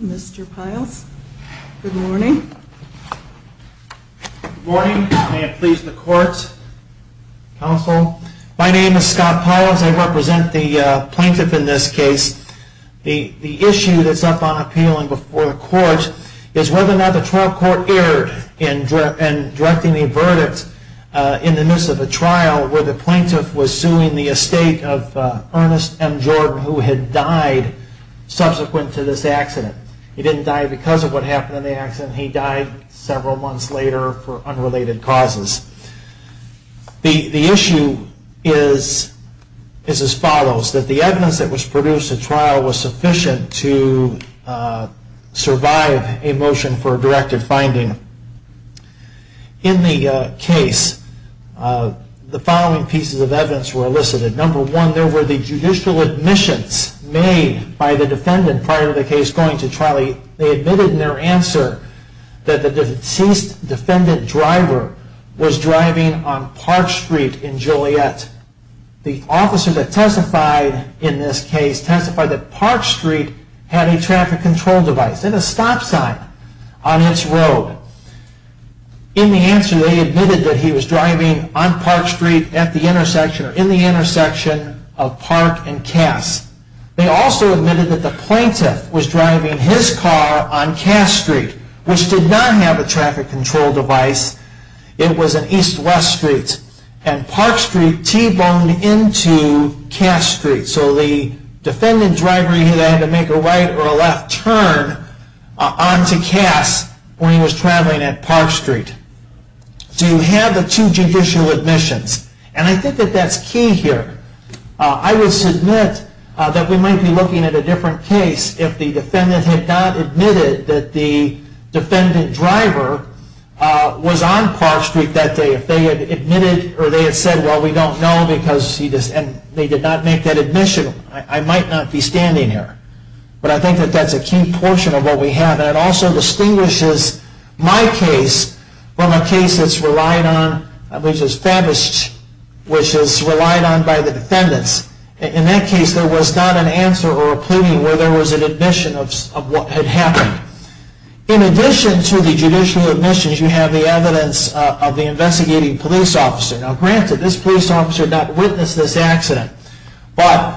Mr. Piles, good morning. Good morning. I am pleased in the courts, counsel. My name is Scott Piles. I represent the plaintiff in this case. The issue that is up on appeal before the court is whether or not the trial court erred in directing the verdict in the midst of a trial where the plaintiff was suing the Estate of Ernest M. Jordan who had died subsequent to this accident. He didn't die because of what happened in the accident. He died several months later for unrelated causes. The issue is as follows. The evidence that was produced at trial was sufficient to survive a motion for a directive finding. In the case, the following pieces of evidence were elicited. Number one, there were the judicial admissions made by the defendant prior to the case going to trial. They admitted in their answer that the deceased defendant driver was driving on Park Street in Joliet. The officer that testified in this case testified that Park Street had a traffic control device and a stop sign on its road. In the answer, they admitted that he was driving on Park Street at the intersection or in the intersection of Park and Cass. They also admitted that the plaintiff was driving his car on Cass Street, which did not have a traffic control device. It was an east-west street. And Park Street T-boned into Cass Street. So the defendant driver either had to make a right or a left turn onto Cass when he was traveling at Park Street. So you have the two judicial admissions. And I think that that's key here. I would submit that we might be looking at a different case if the defendant had not admitted that the defendant driver was on Park Street that day. If they had admitted or they had said, well, we don't know because they did not make that admission, I might not be standing here. But I think that that's a key portion of what we have. And it also distinguishes my case from a case that's relied on, which is Favist, which is relied on by the defendants. In that case, there was not an answer or a pleading where there was an admission of what had happened. In addition to the judicial admissions, you have the evidence of the investigating police officer. Now, granted, this police officer did not witness this accident, but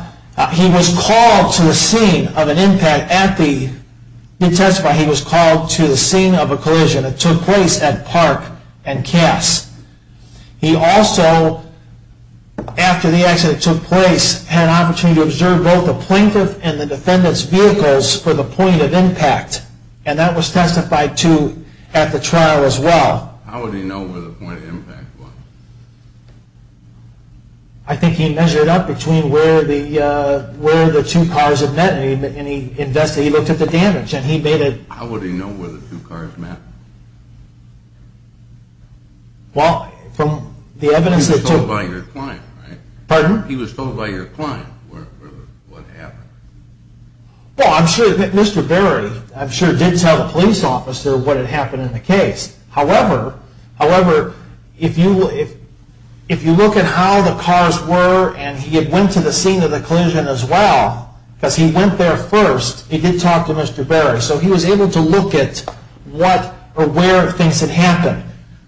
he testified he was called to the scene of a collision that took place at Park and Cass. He also, after the accident took place, had an opportunity to observe both the plaintiff and the defendant's vehicles for the point of impact. And that was testified to at the trial as well. How would he know where the point of impact was? I think he measured up between where the two cars had met and he looked at the damage. How would he know where the two cars met? He was told by your client, right? Pardon? He was told by your client what happened. Well, I'm sure that Mr. Berry, I'm sure, did tell the police officer what had happened in the case. However, if you look at how the cars were and he went to the scene of the collision as well, because he went there first, he did talk to Mr. Berry. So he was able to look at what or where things had happened.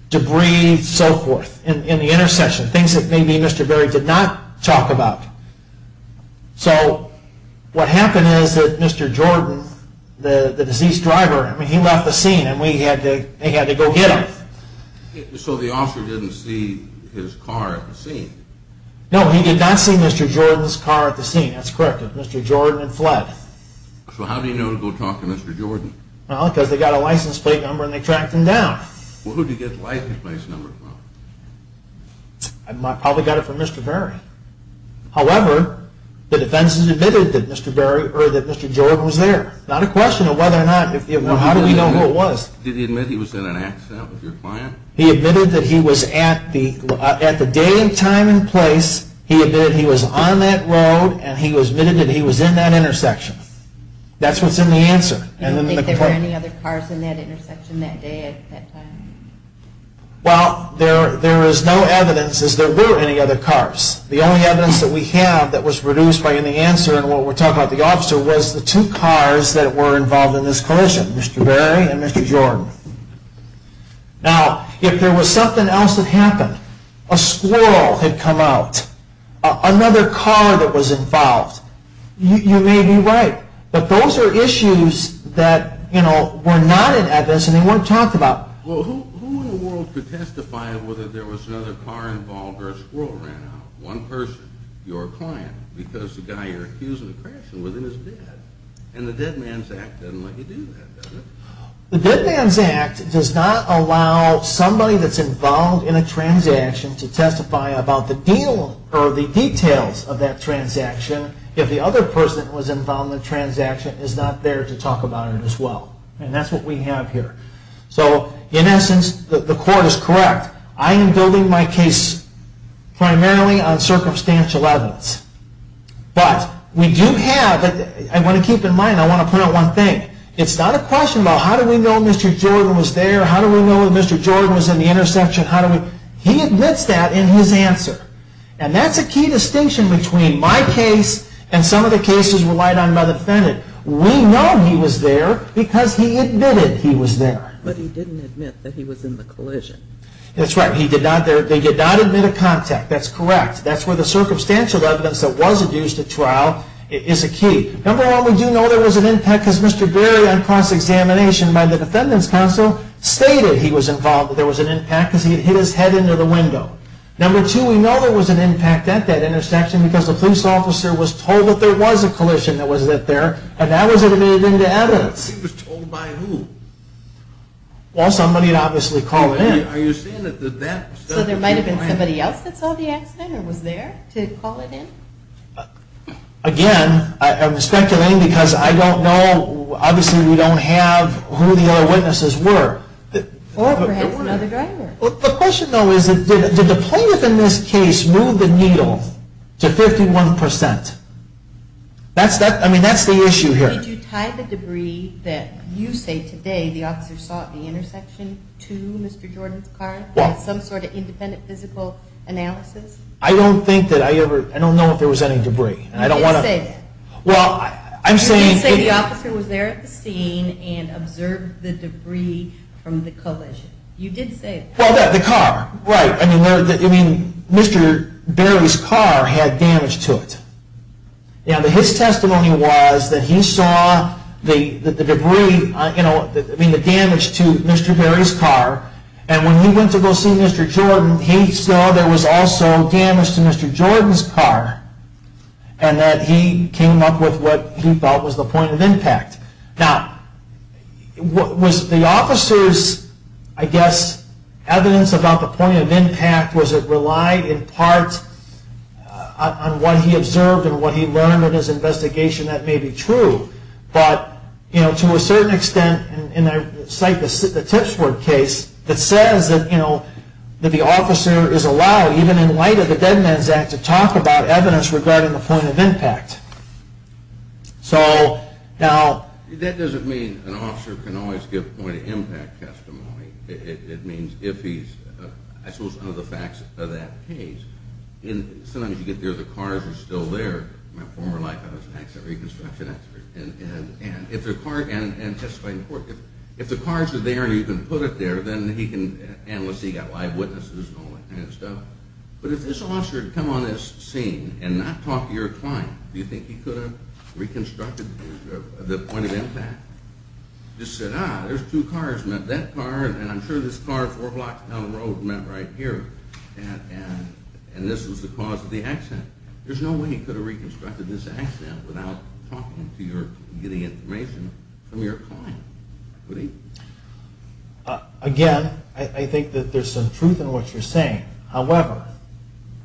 Debris, so forth, in the intersection, things that maybe Mr. Berry did not talk about. So what happened is that Mr. Jordan, the deceased driver, he left the scene and they had to go get him. So the officer didn't see his car at the scene? No, he did not see Mr. Jordan's car at the scene. That's correct. Mr. Jordan had fled. So how did he know to go talk to Mr. Jordan? Well, because they got a license plate number and they tracked him down. Well, who did he get the license plate number from? Probably got it from Mr. Berry. However, the defense has admitted that Mr. Berry, or that Mr. Jordan was there. Not a question of whether or not, how do we know who it was? Did he admit he was in an accident with your client? He admitted that he was at the day and time and place, he admitted he was on that road, and he admitted that he was in that intersection. That's what's in the answer. Do you think there were any other cars in that intersection that day at that time? Well, there is no evidence that there were any other cars. The only evidence that we have that was produced by any answer in what we're talking about the officer was the two cars that were involved in this collision, Mr. Berry and Mr. Jordan. Now, if there was something else that happened, a squirrel had come out, another car that was involved, you may be right, but those are issues that were not in evidence and they weren't talked about. Well, who in the world could testify whether there was another car involved or a squirrel ran out? One person, your client, because the guy you're accusing of crashing was in his bed. And the Dead Man's Act doesn't let you do that, does it? The Dead Man's Act does not allow somebody that's involved in a transaction to testify about the deal or the details of that transaction if the other person that was involved in the transaction is not there to talk about it as well. And that's what we have here. So, in essence, the court is correct. I am building my case primarily on circumstantial evidence. But we do have, I want to keep in mind, I want to point out one thing. It's not a question about how do we know Mr. Jordan was there, how do we know Mr. Jordan was in the intersection, he admits that in his answer. And that's a key distinction between my case and some of the cases relied on by the defendant. We know he was there because he admitted he was there. But he didn't admit that he was in the collision. That's right. They did not admit a contact. That's correct. That's where the circumstantial evidence that was adduced at trial is a key. Number one, we do know there was an impact because Mr. Berry, on cross-examination by the defendant's counsel, stated he was involved, that there was an impact because he had hit his head into the window. Number two, we know there was an impact at that intersection because the police officer was told that there was a collision that was at there, and that was admitted into evidence. He was told by who? Well, somebody obviously called in. Are you saying that there might have been somebody else that saw the accident or was there to call it in? Again, I'm speculating because I don't know. Obviously, we don't have who the other witnesses were. Or perhaps another driver. The question, though, is did the plaintiff in this case move the needle to 51%? I mean, that's the issue here. Did you tie the debris that you say today the officer saw at the intersection to Mr. Jordan's car with some sort of independent physical analysis? I don't think that I ever – I don't know if there was any debris. You didn't say that. Well, I'm saying – You didn't say the officer was there at the scene and observed the debris from the collision. You did say that. Well, the car. Right. I mean, Mr. Berry's car had damage to it. Now, his testimony was that he saw the debris, I mean, the damage to Mr. Berry's car, and when he went to go see Mr. Jordan, he saw there was also damage to Mr. Jordan's car and that he came up with what he felt was the point of impact. Now, was the officer's, I guess, evidence about the point of impact, was it relied in part on what he observed and what he learned in his investigation? That may be true. But, you know, to a certain extent, and I cite the Tipsworth case that says that, you know, that the officer is allowed, even in light of the Dead Man's Act, to talk about evidence regarding the point of impact. So, now. That doesn't mean an officer can always give a point of impact testimony. It means if he's, I suppose, under the facts of that case. Sometimes you get there, the cars are still there. My former life, I was an accident reconstruction expert. And if the cars are there and you can put it there, then he can, unless he got live witnesses and all that kind of stuff. But if this officer had come on this scene and not talked to your client, do you think he could have reconstructed the point of impact? Just said, ah, there's two cars. That car and I'm sure this car four blocks down the road met right here. And this was the cause of the accident. There's no way he could have reconstructed this accident without talking to your, getting information from your client, would he? Again, I think that there's some truth in what you're saying. However,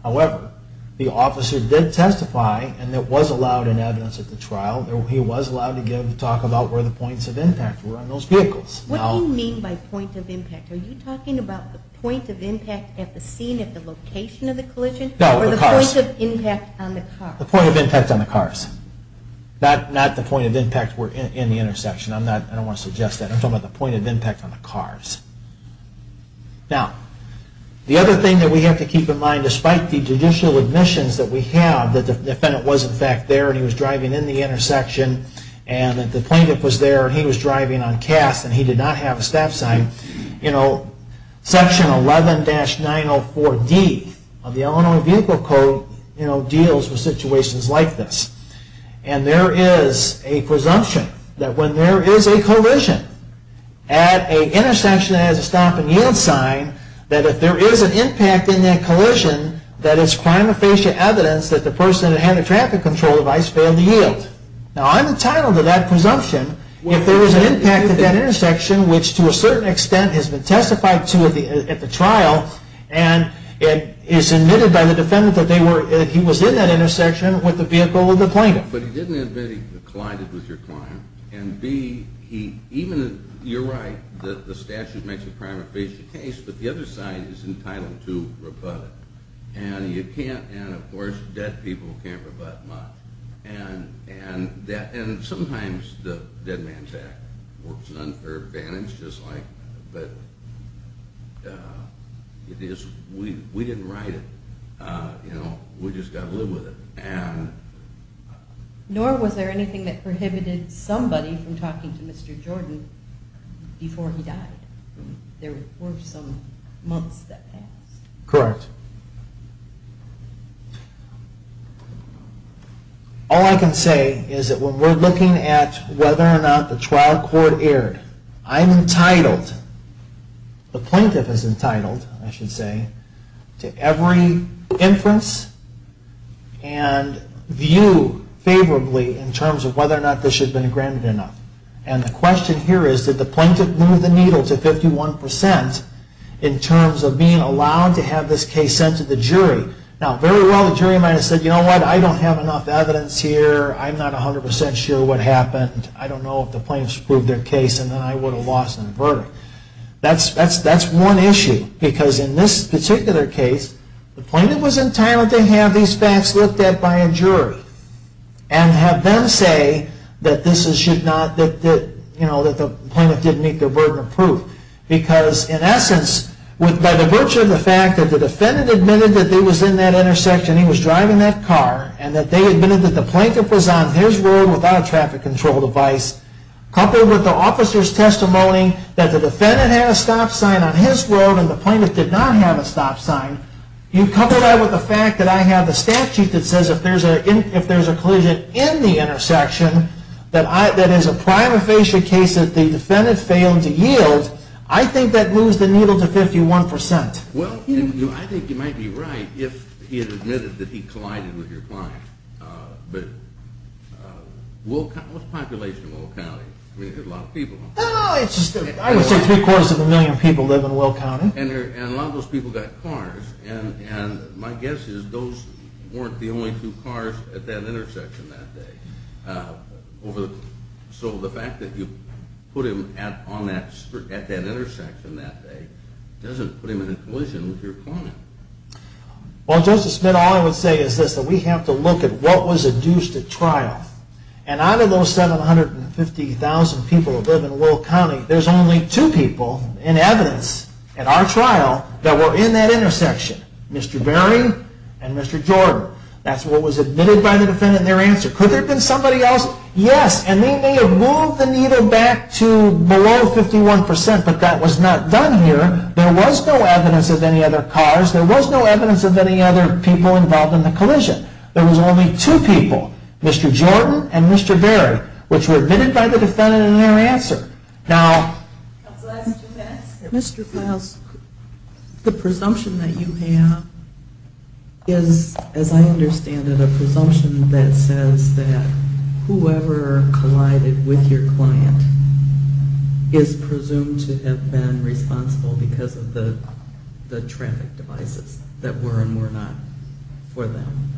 however, the officer did testify and it was allowed in evidence at the trial. He was allowed to talk about where the points of impact were on those vehicles. What do you mean by point of impact? Are you talking about the point of impact at the scene, at the location of the collision? No, the cars. Or the point of impact on the cars? The point of impact on the cars. Not the point of impact were in the intersection. I don't want to suggest that. I'm talking about the point of impact on the cars. Now, the other thing that we have to keep in mind, despite the judicial admissions that we have, the defendant was in fact there and he was driving in the intersection and the plaintiff was there and he was driving on cast and he did not have a stop sign, you know, section 11-904D of the Illinois Vehicle Code deals with situations like this. And there is a presumption that when there is a collision at an intersection that has a stop and yield sign, that if there is an impact in that collision, that it's prima facie evidence that the person that had the traffic control device failed to yield. Now, I'm entitled to that presumption if there was an impact at that intersection, which to a certain extent has been testified to at the trial and it is admitted by the defendant that he was in that intersection with the vehicle of the plaintiff. But he didn't admit he collided with your client and B, even if you're right that the statute makes it a prima facie case, but the other side is entitled to rebut it and you can't, and of course dead people can't rebut much. And sometimes the Dead Man's Act works an unfair advantage, but we didn't write it, you know, we just got to live with it. Nor was there anything that prohibited somebody from talking to Mr. Jordan before he died? There were some months that passed. Correct. All I can say is that when we're looking at whether or not the trial court erred, I'm entitled, the plaintiff is entitled, I should say, to every inference and view favorably in terms of whether or not this should have been granted or not. And the question here is, did the plaintiff move the needle to 51% in terms of being allowed to have this case sent to the jury? Now, very well the jury might have said, you know what, I don't have enough evidence here, I'm not 100% sure what happened, I don't know if the plaintiffs proved their case and then I would have lost the verdict. That's one issue, because in this particular case, the plaintiff was entitled to have these facts looked at by a jury and have them say that the plaintiff didn't meet their burden of proof. Because in essence, by the virtue of the fact that the defendant admitted that he was in that intersection, he was driving that car, and that they admitted that the plaintiff was on his road without a traffic control device, coupled with the officer's testimony that the defendant had a stop sign on his road and the plaintiff did not have a stop sign, you couple that with the fact that I have a statute that says if there's a collision in the intersection, that is a prima facie case that the defendant failed to yield, I think that moves the needle to 51%. Well, I think you might be right if he had admitted that he collided with your client. But what's the population of Will County? I would say three quarters of a million people live in Will County. And a lot of those people got cars, and my guess is those weren't the only two cars at that intersection that day. So the fact that you put him at that intersection that day doesn't put him in a collision with your client. Well, Justice Smith, all I would say is this, that we have to look at what was induced at trial. And out of those 750,000 people that live in Will County, there's only two people in evidence at our trial that were in that intersection, Mr. Berry and Mr. Jordan. That's what was admitted by the defendant in their answer. Could there have been somebody else? Yes. And they may have moved the needle back to below 51%, but that was not done here. There was no evidence of any other cars. There was no evidence of any other people involved in the collision. There was only two people, Mr. Jordan and Mr. Berry, which were admitted by the defendant in their answer. Now, Mr. Files, the presumption that you have is, as I understand it, a presumption that says that whoever collided with your client is presumed to have been responsible because of the traffic devices that were and were not for them.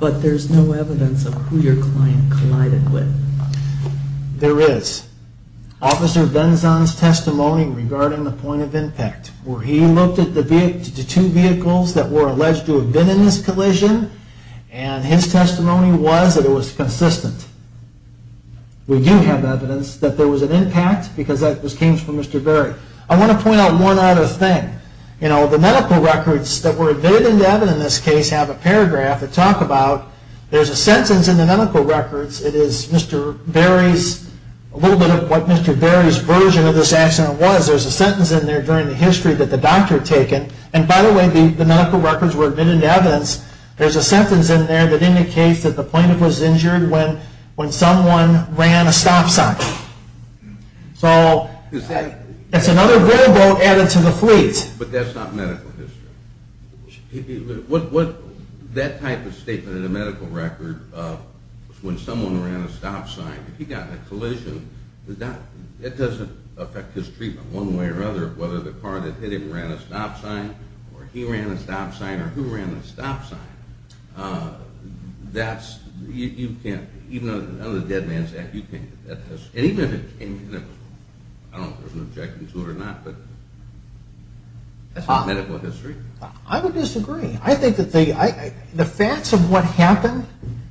But there's no evidence of who your client collided with. There is. Officer Benzon's testimony regarding the point of impact, where he looked at the two vehicles that were alleged to have been in this collision, and his testimony was that it was consistent. We do have evidence that there was an impact because this came from Mr. Berry. I want to point out one other thing. You know, the medical records that were admitted into evidence in this case have a paragraph that talk about there's a sentence in the medical records. It is Mr. Berry's, a little bit of what Mr. Berry's version of this accident was. There's a sentence in there during the history that the doctor had taken. And by the way, the medical records were admitted into evidence. There's a sentence in there that indicates that the plaintiff was injured when someone ran a stop sign. So that's another variable added to the fleet. But that's not medical history. That type of statement in the medical record, when someone ran a stop sign, if he got in a collision, it doesn't affect his treatment one way or another, whether the car that hit him ran a stop sign or he ran a stop sign or who ran the stop sign. That's, you can't, even on the dead man's neck, you can't, and even if, I don't know if there's an objection to it or not, but that's not medical history. I would disagree. I think that the facts of what happened,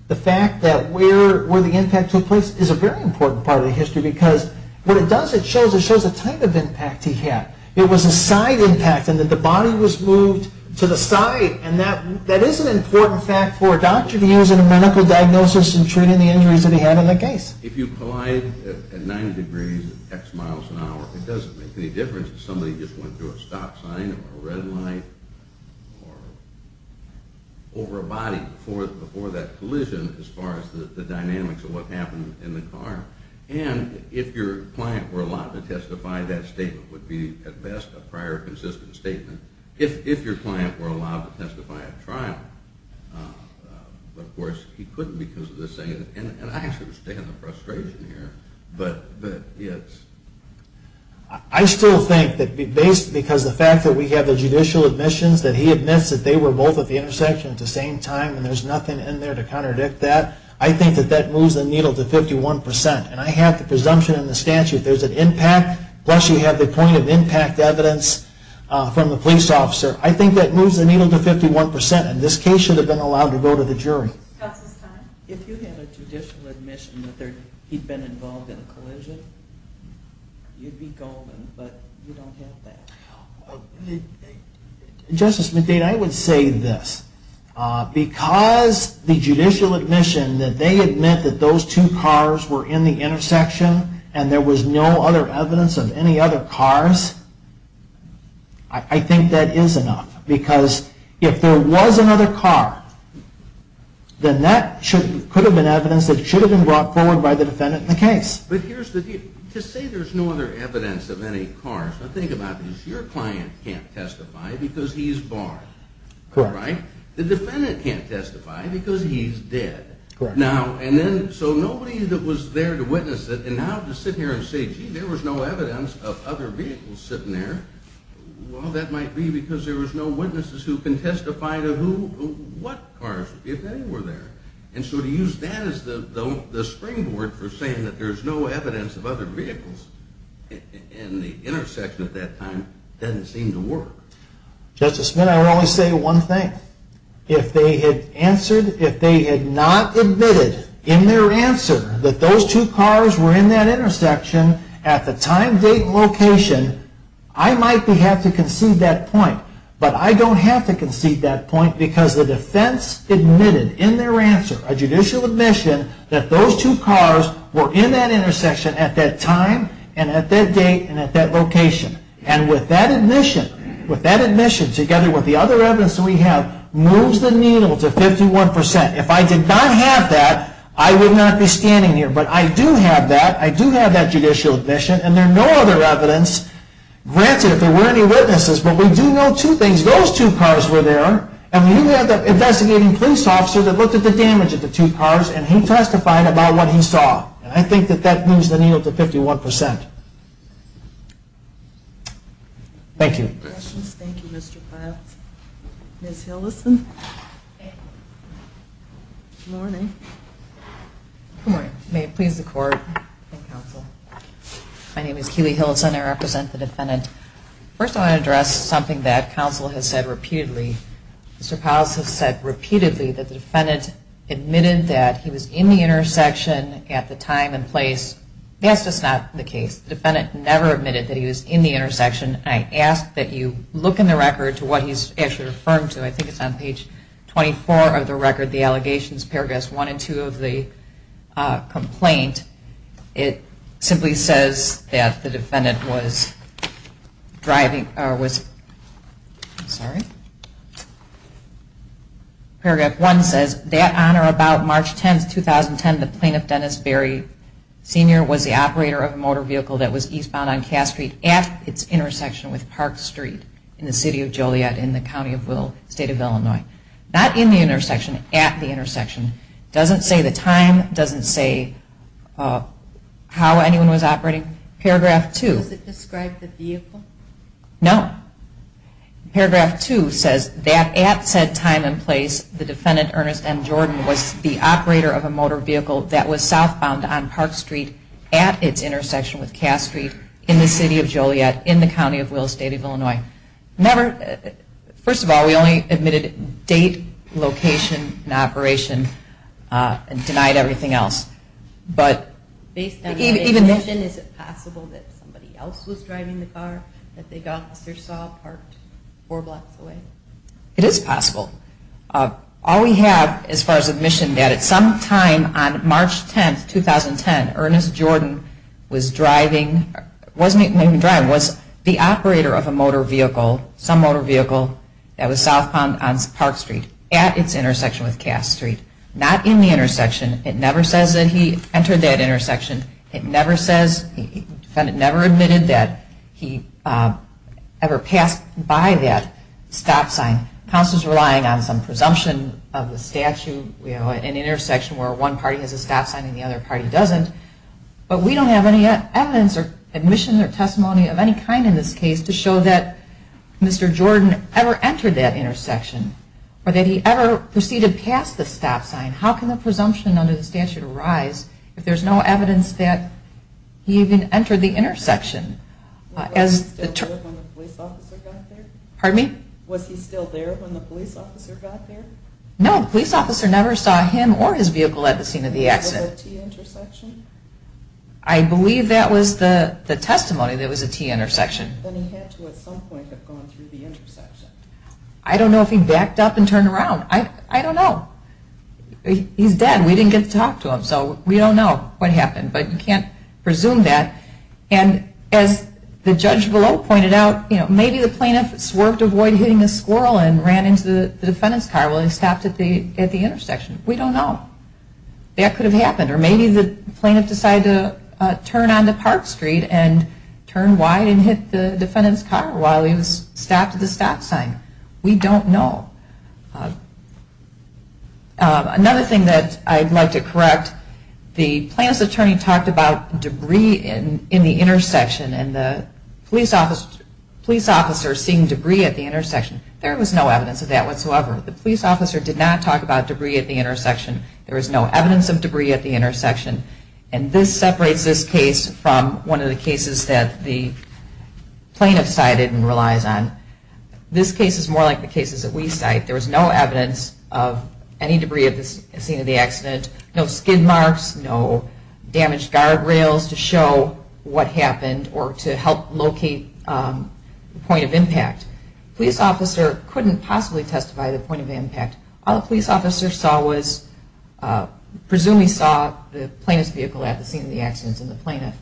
the fact that where the impact took place is a very important part of the history because what it does, it shows a type of impact he had. It was a side impact in that the body was moved to the side and that is an important fact for a doctor to use in a medical diagnosis in treating the injuries that he had in the case. If you collide at 90 degrees X miles an hour, it doesn't make any difference if somebody just went through a stop sign or a red light or over a body before that collision as far as the dynamics of what happened in the car. And if your client were allowed to testify, that statement would be, at best, a prior consistent statement. If your client were allowed to testify at trial, but of course he couldn't because of the same, and I understand the frustration here, but it's... I still think that because the fact that we have the judicial admissions that he admits that they were both at the intersection at the same time and there's nothing in there to contradict that, I think that that moves the needle to 51%. And I have the presumption in the statute there's an impact, plus you have the point of impact evidence from the police officer. I think that moves the needle to 51%, and this case should have been allowed to go to the jury. If you had a judicial admission that he'd been involved in a collision, you'd be golden, but you don't have that. Justice McDade, I would say this. Because the judicial admission that they admit that those two cars were in the intersection and there was no other evidence of any other cars, I think that is enough. Because if there was another car, then that could have been evidence that should have been brought forward by the defendant in the case. But here's the deal. To say there's no other evidence of any cars, now think about this. Your client can't testify because he's barred. Correct. Right? The defendant can't testify because he's dead. Correct. So nobody that was there to witness it, and now to sit here and say, gee, there was no evidence of other vehicles sitting there, well, that might be because there was no witnesses who can testify to what cars, if any, were there. And so to use that as the springboard for saying that there's no evidence of other vehicles in the intersection at that time doesn't seem to work. Justice Smith, I would only say one thing. If they had answered, if they had not admitted in their answer that those two cars were in that intersection at the time, date, and location, I might have to concede that point. But I don't have to concede that point because the defense admitted in their answer, a judicial admission, that those two cars were in that intersection at that time and at that date and at that location. And with that admission, with that admission, together with the other evidence that we have, moves the needle to 51%. If I did not have that, I would not be standing here. But I do have that. I do have that judicial admission, and there are no other evidence. Granted, if there were any witnesses, but we do know two things. Those two cars were there, and we do have the investigating police officer that looked at the damage of the two cars, and he testified about what he saw. And I think that that moves the needle to 51%. Thank you. Any questions? Thank you, Mr. Powles. Ms. Hillison. Good morning. Good morning. May it please the Court and counsel. My name is Keely Hillison. I represent the defendant. First, I want to address something that counsel has said repeatedly. Mr. Powles has said repeatedly that the defendant admitted that he was in the intersection at the time and place. That's just not the case. The defendant never admitted that he was in the intersection. I ask that you look in the record to what he's actually referring to. I think it's on page 24 of the record, the allegations, paragraphs 1 and 2 of the complaint. It simply says that the defendant was driving, or was, sorry, paragraph 1 says, that on or about March 10, 2010, the plaintiff, Dennis Berry Sr., was the operator of a motor vehicle that was eastbound on Cass Street at its intersection with Park Street in the city of Joliet in the county of Will, state of Illinois. Not in the intersection, at the intersection. It doesn't say the time. It doesn't say how anyone was operating. Paragraph 2. Does it describe the vehicle? No. Paragraph 2 says that at said time and place, the defendant, Ernest M. Jordan, was the operator of a motor vehicle that was southbound on Park Street at its intersection with Cass Street in the city of Joliet in the county of Will, state of Illinois. Never, first of all, we only admitted date, location, and operation, and denied everything else. Based on your admission, is it possible that somebody else was driving the car that the officer saw parked four blocks away? It is possible. All we have, as far as admission, that at some time on March 10, 2010, Ernest Jordan was driving, wasn't even driving, was the operator of a motor vehicle, some motor vehicle, that was southbound on Park Street at its intersection with Cass Street. Not in the intersection. It never says that he entered that intersection. It never says, the defendant never admitted that he ever passed by that stop sign. Counsel is relying on some presumption of the statute. We have an intersection where one party has a stop sign and the other party doesn't, but we don't have any evidence or admission or testimony of any kind in this case to show that Mr. Jordan ever entered that intersection or that he ever proceeded past the stop sign. How can the presumption under the statute arise if there's no evidence that he even entered the intersection? Was he still there when the police officer got there? Pardon me? Was he still there when the police officer got there? No, the police officer never saw him or his vehicle at the scene of the accident. Was it a T-intersection? I believe that was the testimony that it was a T-intersection. Then he had to, at some point, have gone through the intersection. I don't know if he backed up and turned around. I don't know. He's dead. We didn't get to talk to him, so we don't know what happened, but you can't presume that. And as the judge below pointed out, maybe the plaintiff swerved avoid hitting the squirrel and ran into the defendant's car while he stopped at the intersection. We don't know. That could have happened, or maybe the plaintiff decided to turn on the Park Street and turn wide and hit the defendant's car while he was stopped at the stop sign. We don't know. Another thing that I'd like to correct, the plaintiff's attorney talked about debris in the intersection and the police officer seeing debris at the intersection. There was no evidence of that whatsoever. The police officer did not talk about debris at the intersection. There was no evidence of debris at the intersection. And this separates this case from one of the cases that the plaintiff cited and relies on. This case is more like the cases that we cite. There was no evidence of any debris at the scene of the accident, no skin marks, no damaged guardrails to show what happened or to help locate the point of impact. The police officer couldn't possibly testify to the point of impact. All the police officer saw was, presumably saw the plaintiff's vehicle at the scene of the accident and the plaintiff.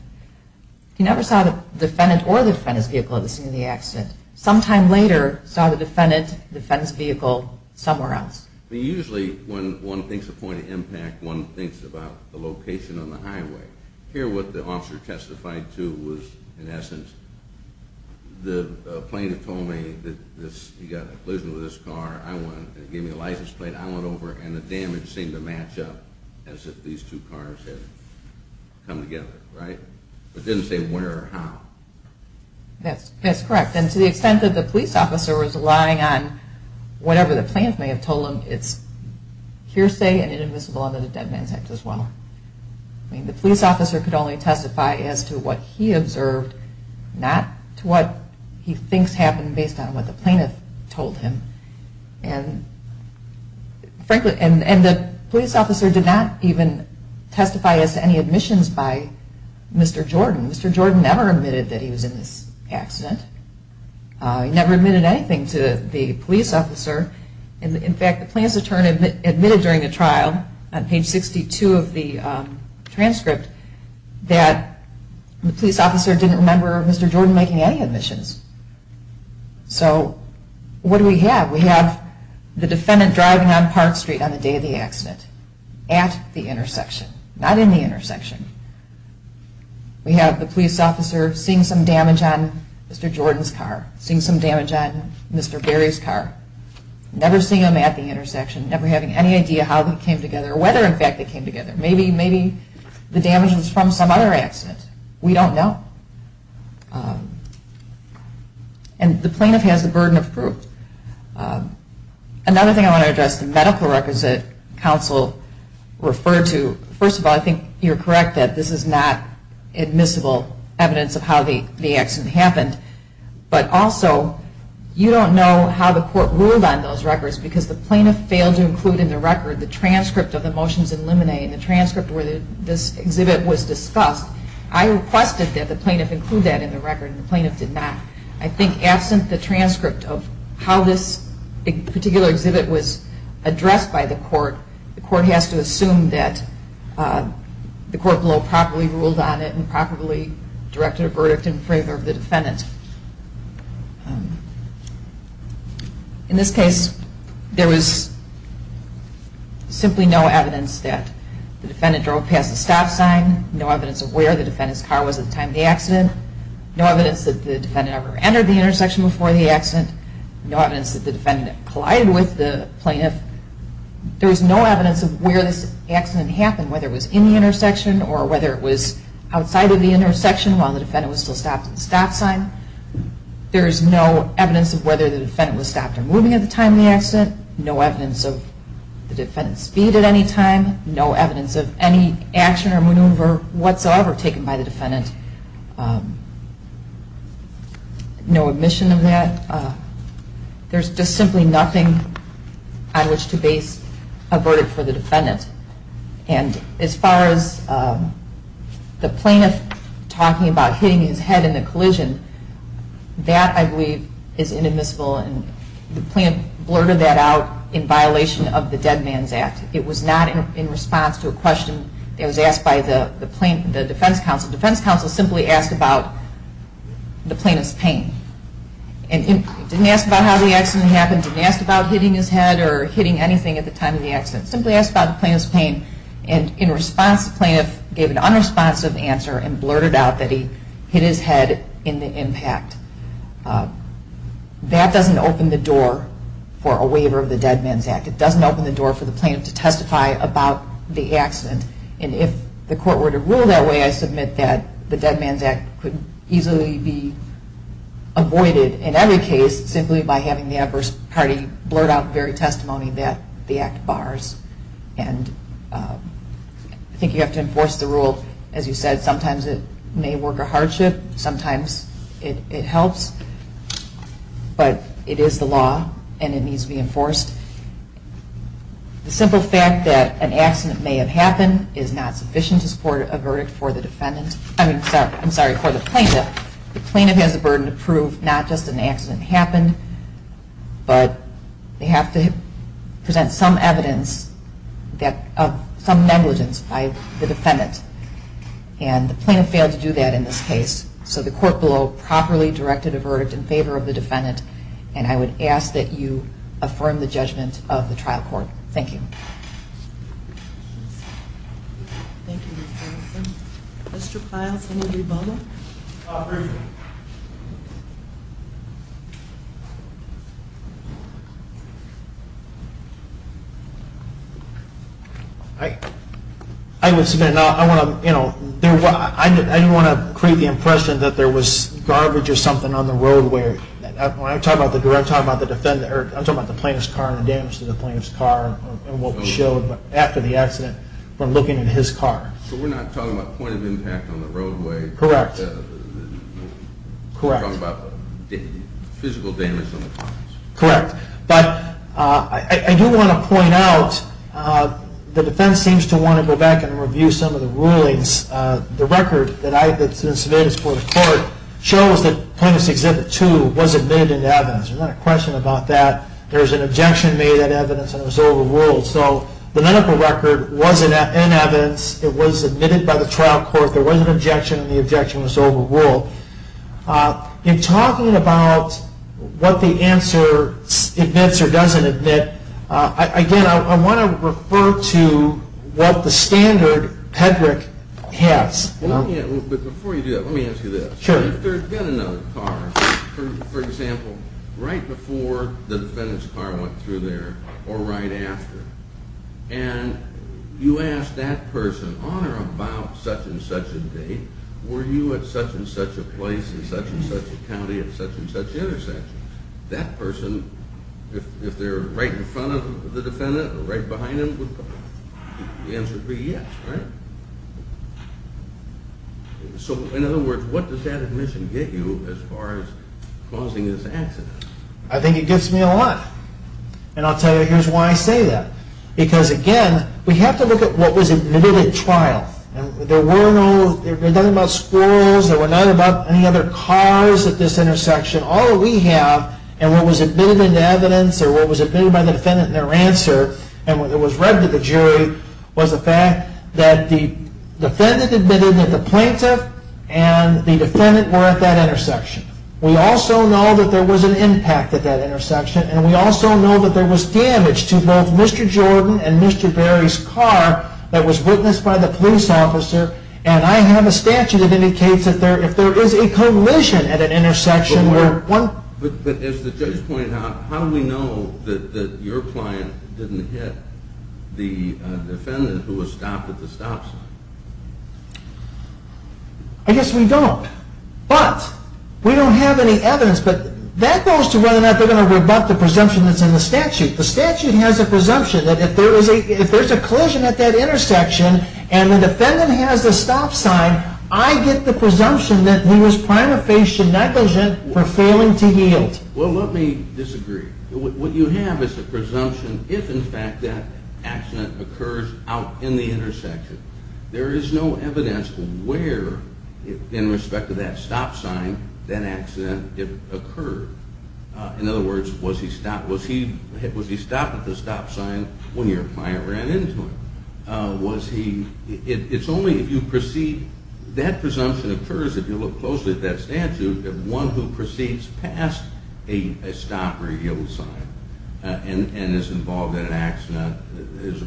He never saw the defendant or the defendant's vehicle at the scene of the accident. Sometime later, he saw the defendant's vehicle somewhere else. Usually when one thinks of point of impact, one thinks about the location on the highway. Here what the officer testified to was, in essence, the plaintiff told me that he got in a collision with this car. He gave me a license plate. I went over and the damage seemed to match up as if these two cars had come together, right? It didn't say where or how. That's correct. And to the extent that the police officer was relying on whatever the plaintiff may have told him, it's hearsay and inadmissible under the Dead Man's Act as well. The police officer could only testify as to what he observed, not to what he thinks happened based on what the plaintiff told him. And the police officer did not even testify as to any admissions by Mr. Jordan. Mr. Jordan never admitted that he was in this accident. He never admitted anything to the police officer. In fact, the plaintiff's attorney admitted during the trial, on page 62 of the transcript, that the police officer didn't remember Mr. Jordan making any admissions. So what do we have? We have the defendant driving on Park Street on the day of the accident at the intersection, not in the intersection. We have the police officer seeing some damage on Mr. Jordan's car, seeing some damage on Mr. Berry's car, never seeing him at the intersection, never having any idea how they came together, or whether, in fact, they came together. Maybe the damage was from some other accident. We don't know. And the plaintiff has the burden of proof. Another thing I want to address, the medical records that counsel referred to, first of all, I think you're correct that this is not admissible evidence of how the accident happened, but also you don't know how the court ruled on those records because the plaintiff failed to include in the record the transcript of the motions in limine and the transcript where this exhibit was discussed. I requested that the plaintiff include that in the record, and the plaintiff did not. I think absent the transcript of how this particular exhibit was addressed by the court, the court has to assume that the court below properly ruled on it and properly directed a verdict in favor of the defendant. In this case, there was simply no evidence that the defendant drove past the stop sign, no evidence of where the defendant's car was at the time of the accident, no evidence that the defendant ever entered the intersection before the accident, no evidence that the defendant collided with the plaintiff. There was no evidence of where this accident happened, whether it was in the intersection or whether it was outside of the intersection while the defendant was still stopped at the stop sign. There is no evidence of whether the defendant was stopped or moving at the time of the accident, no evidence of the defendant's speed at any time, no evidence of any action or maneuver whatsoever taken by the defendant, no admission of that. There's just simply nothing on which to base a verdict for the defendant. And as far as the plaintiff talking about hitting his head in the collision, that I believe is inadmissible and the plaintiff blurted that out in violation of the Dead Man's Act. It was not in response to a question that was asked by the defense counsel. The defense counsel simply asked about the plaintiff's pain. They didn't ask about how the accident happened, they didn't ask about hitting his head or hitting anything at the time of the accident, simply asked about the plaintiff's pain. And in response, the plaintiff gave an unresponsive answer and blurted out that he hit his head in the impact. That doesn't open the door for a waiver of the Dead Man's Act. It doesn't open the door for the plaintiff to testify about the accident. And if the court were to rule that way, I submit that the Dead Man's Act could easily be avoided in every case simply by having the adverse party blurt out the very testimony that the act bars. And I think you have to enforce the rule. As you said, sometimes it may work a hardship, sometimes it helps, but it is the law and it needs to be enforced. The simple fact that an accident may have happened is not sufficient to support a verdict for the defendant. I'm sorry, for the plaintiff. The plaintiff has the burden to prove not just that an accident happened, but they have to present some evidence of some negligence by the defendant. And the plaintiff failed to do that in this case. So the court below properly directed a verdict in favor of the defendant, and I would ask that you affirm the judgment of the trial court. Thank you. Thank you, Mr. Carlson. Mr. Piles, any rebuttal? Briefly. I would submit, I didn't want to create the impression that there was garbage or something on the road. When I'm talking about the defense, I'm talking about the plaintiff's car and the damage to the plaintiff's car and what was there. I'm not talking about the damage that the plaintiff showed after the accident from looking at his car. So we're not talking about point of impact on the roadway? Correct. We're talking about physical damage on the car? Correct. But I do want to point out, the defense seems to want to go back and review some of the rulings. The record that I submitted to the court shows that Plaintiff's Exhibit 2 was admitted into evidence. There's not a question about that. There's an objection made at evidence and it was overruled. So the medical record was in evidence. It was admitted by the trial court. There was an objection and the objection was overruled. In talking about what the answer admits or doesn't admit, again, I want to refer to what the standard, Hedrick, has. Before you do that, let me ask you this. Sure. If there had been another car, for example, right before the defendant's car went through there or right after, and you ask that person on or about such-and-such a date, were you at such-and-such a place in such-and-such a county at such-and-such an intersection, that person, if they're right in front of the defendant or right behind him, the answer would be yes, right? So, in other words, what does that admission get you as far as causing this accident? I think it gets me a lot. And I'll tell you, here's why I say that. Because, again, we have to look at what was admitted at trial. There were no, there was nothing about squirrels. There were none about any other cars at this intersection. All we have, and what was admitted into evidence or what was admitted by the defendant in their answer and what was read to the jury was the fact that the defendant admitted that the plaintiff and the defendant were at that intersection. We also know that there was an impact at that intersection, and we also know that there was damage to both Mr. Jordan and Mr. Berry's car that was witnessed by the police officer. And I have a statute that indicates that if there is a collision at an intersection where one... But as the judge pointed out, how do we know that your client didn't hit the defendant who was stopped at the stop sign? I guess we don't. But we don't have any evidence, but that goes to whether or not they're going to rebut the presumption that's in the statute. The statute has a presumption that if there's a collision at that intersection and the defendant has the stop sign, I get the presumption that he was prima facie negligent for failing to yield. Well, let me disagree. What you have is a presumption if, in fact, that accident occurs out in the intersection. There is no evidence where, in respect to that stop sign, that accident occurred. In other words, was he stopped at the stop sign when your client ran into him? It's only if you proceed... that presumption occurs if you look closely at that statute, that one who proceeds past a stop or a yield sign and is involved in an accident is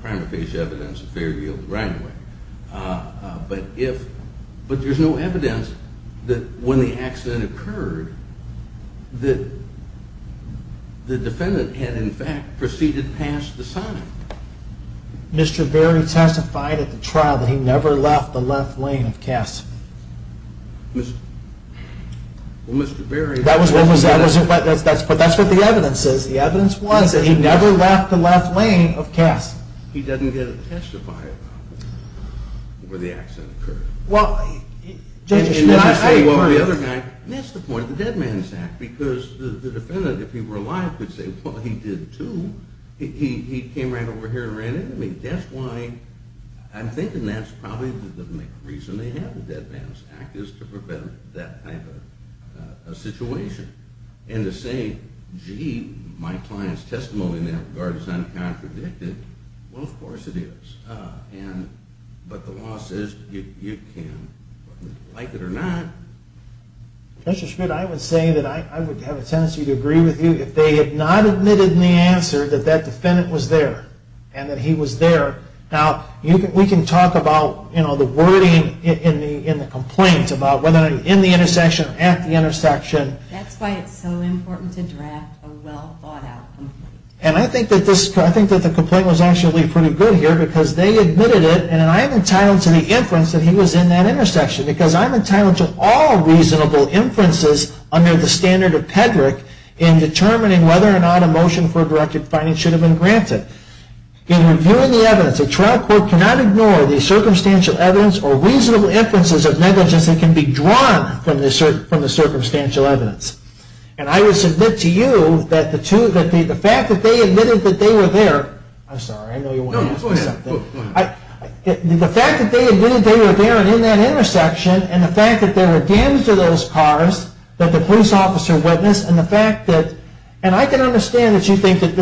prima facie evidence of failure to yield right away. But there's no evidence that when the accident occurred that the defendant had, in fact, proceeded past the sign. Mr. Berry testified at the trial that he never left the left lane of Cass. Well, Mr. Berry... That's what the evidence is. The evidence was that he never left the left lane of Cass. He doesn't get to testify about where the accident occurred. Well... And then I say, well, the other guy... That's the point of the Dead Man's Act, because the defendant, if he were alive, could say, well, he did too. He came right over here and ran into me. That's why I'm thinking that's probably the reason they have the Dead Man's Act, is to prevent that type of situation. And to say, gee, my client's testimony in that regard is uncontradicted. Well, of course it is. But the law says you can like it or not. Mr. Schmidt, I would say that I would have a tendency to agree with you if they had not admitted in the answer that that defendant was there and that he was there. Now, we can talk about, you know, the wording in the complaint about whether I'm in the intersection or at the intersection. That's why it's so important to draft a well-thought-out complaint. And I think that the complaint was actually pretty good here, because they admitted it, and I am entitled to the inference that he was in that intersection, because I'm entitled to all reasonable inferences under the standard of PEDRIC in determining whether or not a motion for a directed finding should have been granted. In reviewing the evidence, a trial court cannot ignore the circumstantial evidence or reasonable inferences of negligence that can be drawn from the circumstantial evidence. And I would submit to you that the fact that they admitted that they were there... I'm sorry, I know you want to ask me something. The fact that they admitted they were there and in that intersection, and the fact that there were damage to those cars that the police officer witnessed, and the fact that... and I can understand that you think that...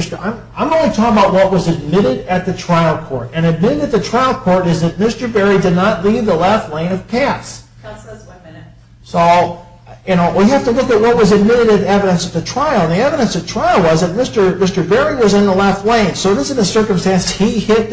I'm only talking about what was admitted at the trial court. And admitted at the trial court is that Mr. Berry did not leave the left lane of Cass. So, you know, we have to look at what was admitted as evidence at the trial. And the evidence at trial was that Mr. Berry was in the left lane. So it isn't a circumstance that he hit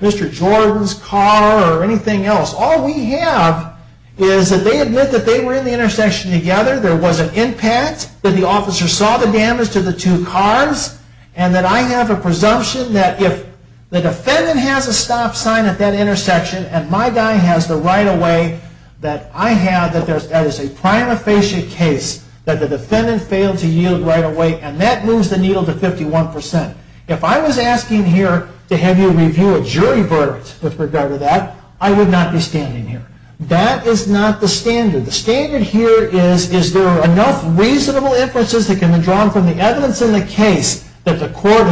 Mr. Jordan's car or anything else. All we have is that they admit that they were in the intersection together, there was an impact, that the officer saw the damage to the two cars, and that I have a presumption that if the defendant has a stop sign at that intersection and my guy has the right-of-way, that I have that there is a prima facie case that the defendant failed to yield right-of-way, and that moves the needle to 51%. If I was asking here to have you review a jury verdict with regard to that, I would not be standing here. That is not the standard. The standard here is, is there enough reasonable inferences that can be drawn from the evidence in the case that the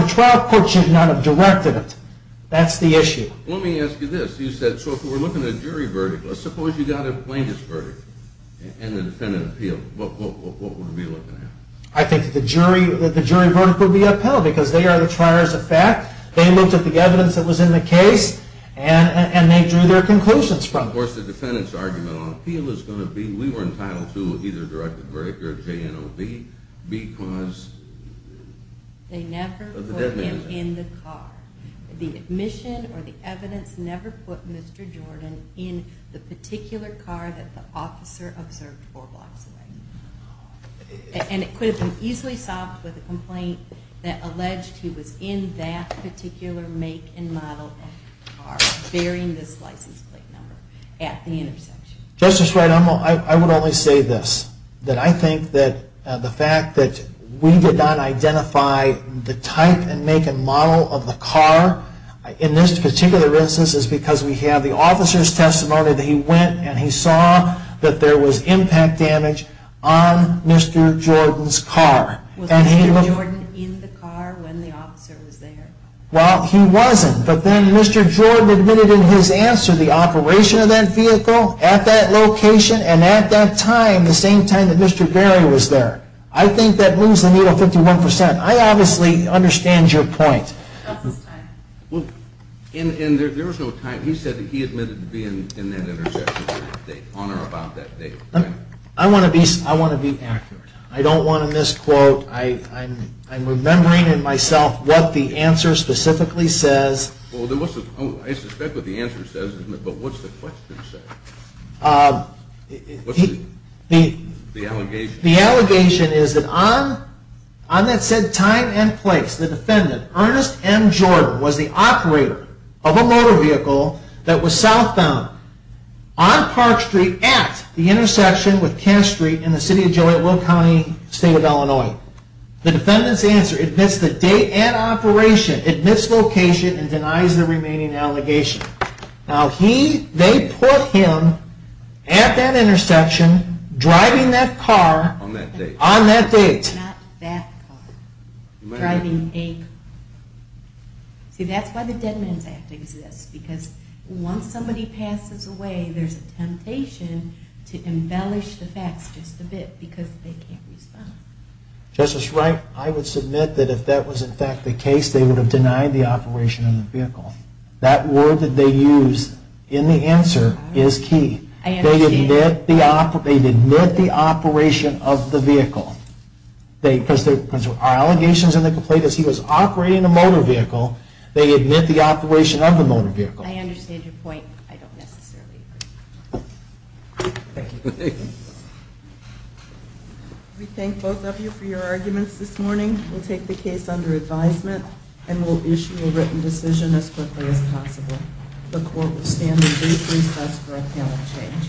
trial court should not have directed it. That's the issue. Let me ask you this. You said, so if we're looking at a jury verdict, let's suppose you got a plaintiff's verdict and the defendant appealed. What would we be looking at? I think that the jury verdict would be upheld because they are the triers of fact. They looked at the evidence that was in the case, and they drew their conclusions from it. Of course, the defendant's argument on appeal is going to be we were entitled to either a directed verdict or a JNOB because of the dead man's act. They never put him in the car. The admission or the evidence never put Mr. Jordan in the particular car that the officer observed four blocks away. And it could have been easily solved with a complaint that alleged he was in that particular make and model of car, bearing this license plate number at the intersection. Justice Wright, I would only say this. That I think that the fact that we did not identify the type and make and model of the car in this particular instance is because we have the officer's testimony that he went and he saw that there was impact damage on Mr. Jordan's car. Was Mr. Jordan in the car when the officer was there? Well, he wasn't, but then Mr. Jordan admitted in his answer the operation of that vehicle at that location and at that time, the same time that Mr. Berry was there. I think that moves the needle 51%. I obviously understand your point. And there was no time. He said that he admitted to being in that intersection on or about that date. I want to be accurate. I don't want to misquote. I'm remembering in myself what the answer specifically says. I suspect what the answer says, but what's the question say? What's the allegation? The allegation is that on that said time and place, the defendant, Ernest M. Jordan, was the operator of a motor vehicle that was southbound on Park Street at the intersection with Cash Street in the city of Jolietville County, state of Illinois. The defendant's answer admits the date and operation, admits location, and denies the remaining allegation. Now, they put him at that intersection, driving that car, on that date. Not that car. Driving a car. See, that's why the Dead Man's Act exists. Because once somebody passes away, there's a temptation to embellish the facts just a bit because they can't respond. Justice Wright, I would submit that if that was in fact the case, they would have denied the operation of the vehicle. That word that they use in the answer is key. They admit the operation of the vehicle. Because there are allegations in the complaint that he was operating a motor vehicle, they admit the operation of the motor vehicle. I understand your point. I don't necessarily agree. Thank you. We thank both of you for your arguments this morning. We'll take the case under advisement and we'll issue a written decision as quickly as possible. The court will stand in brief recess for a panel change.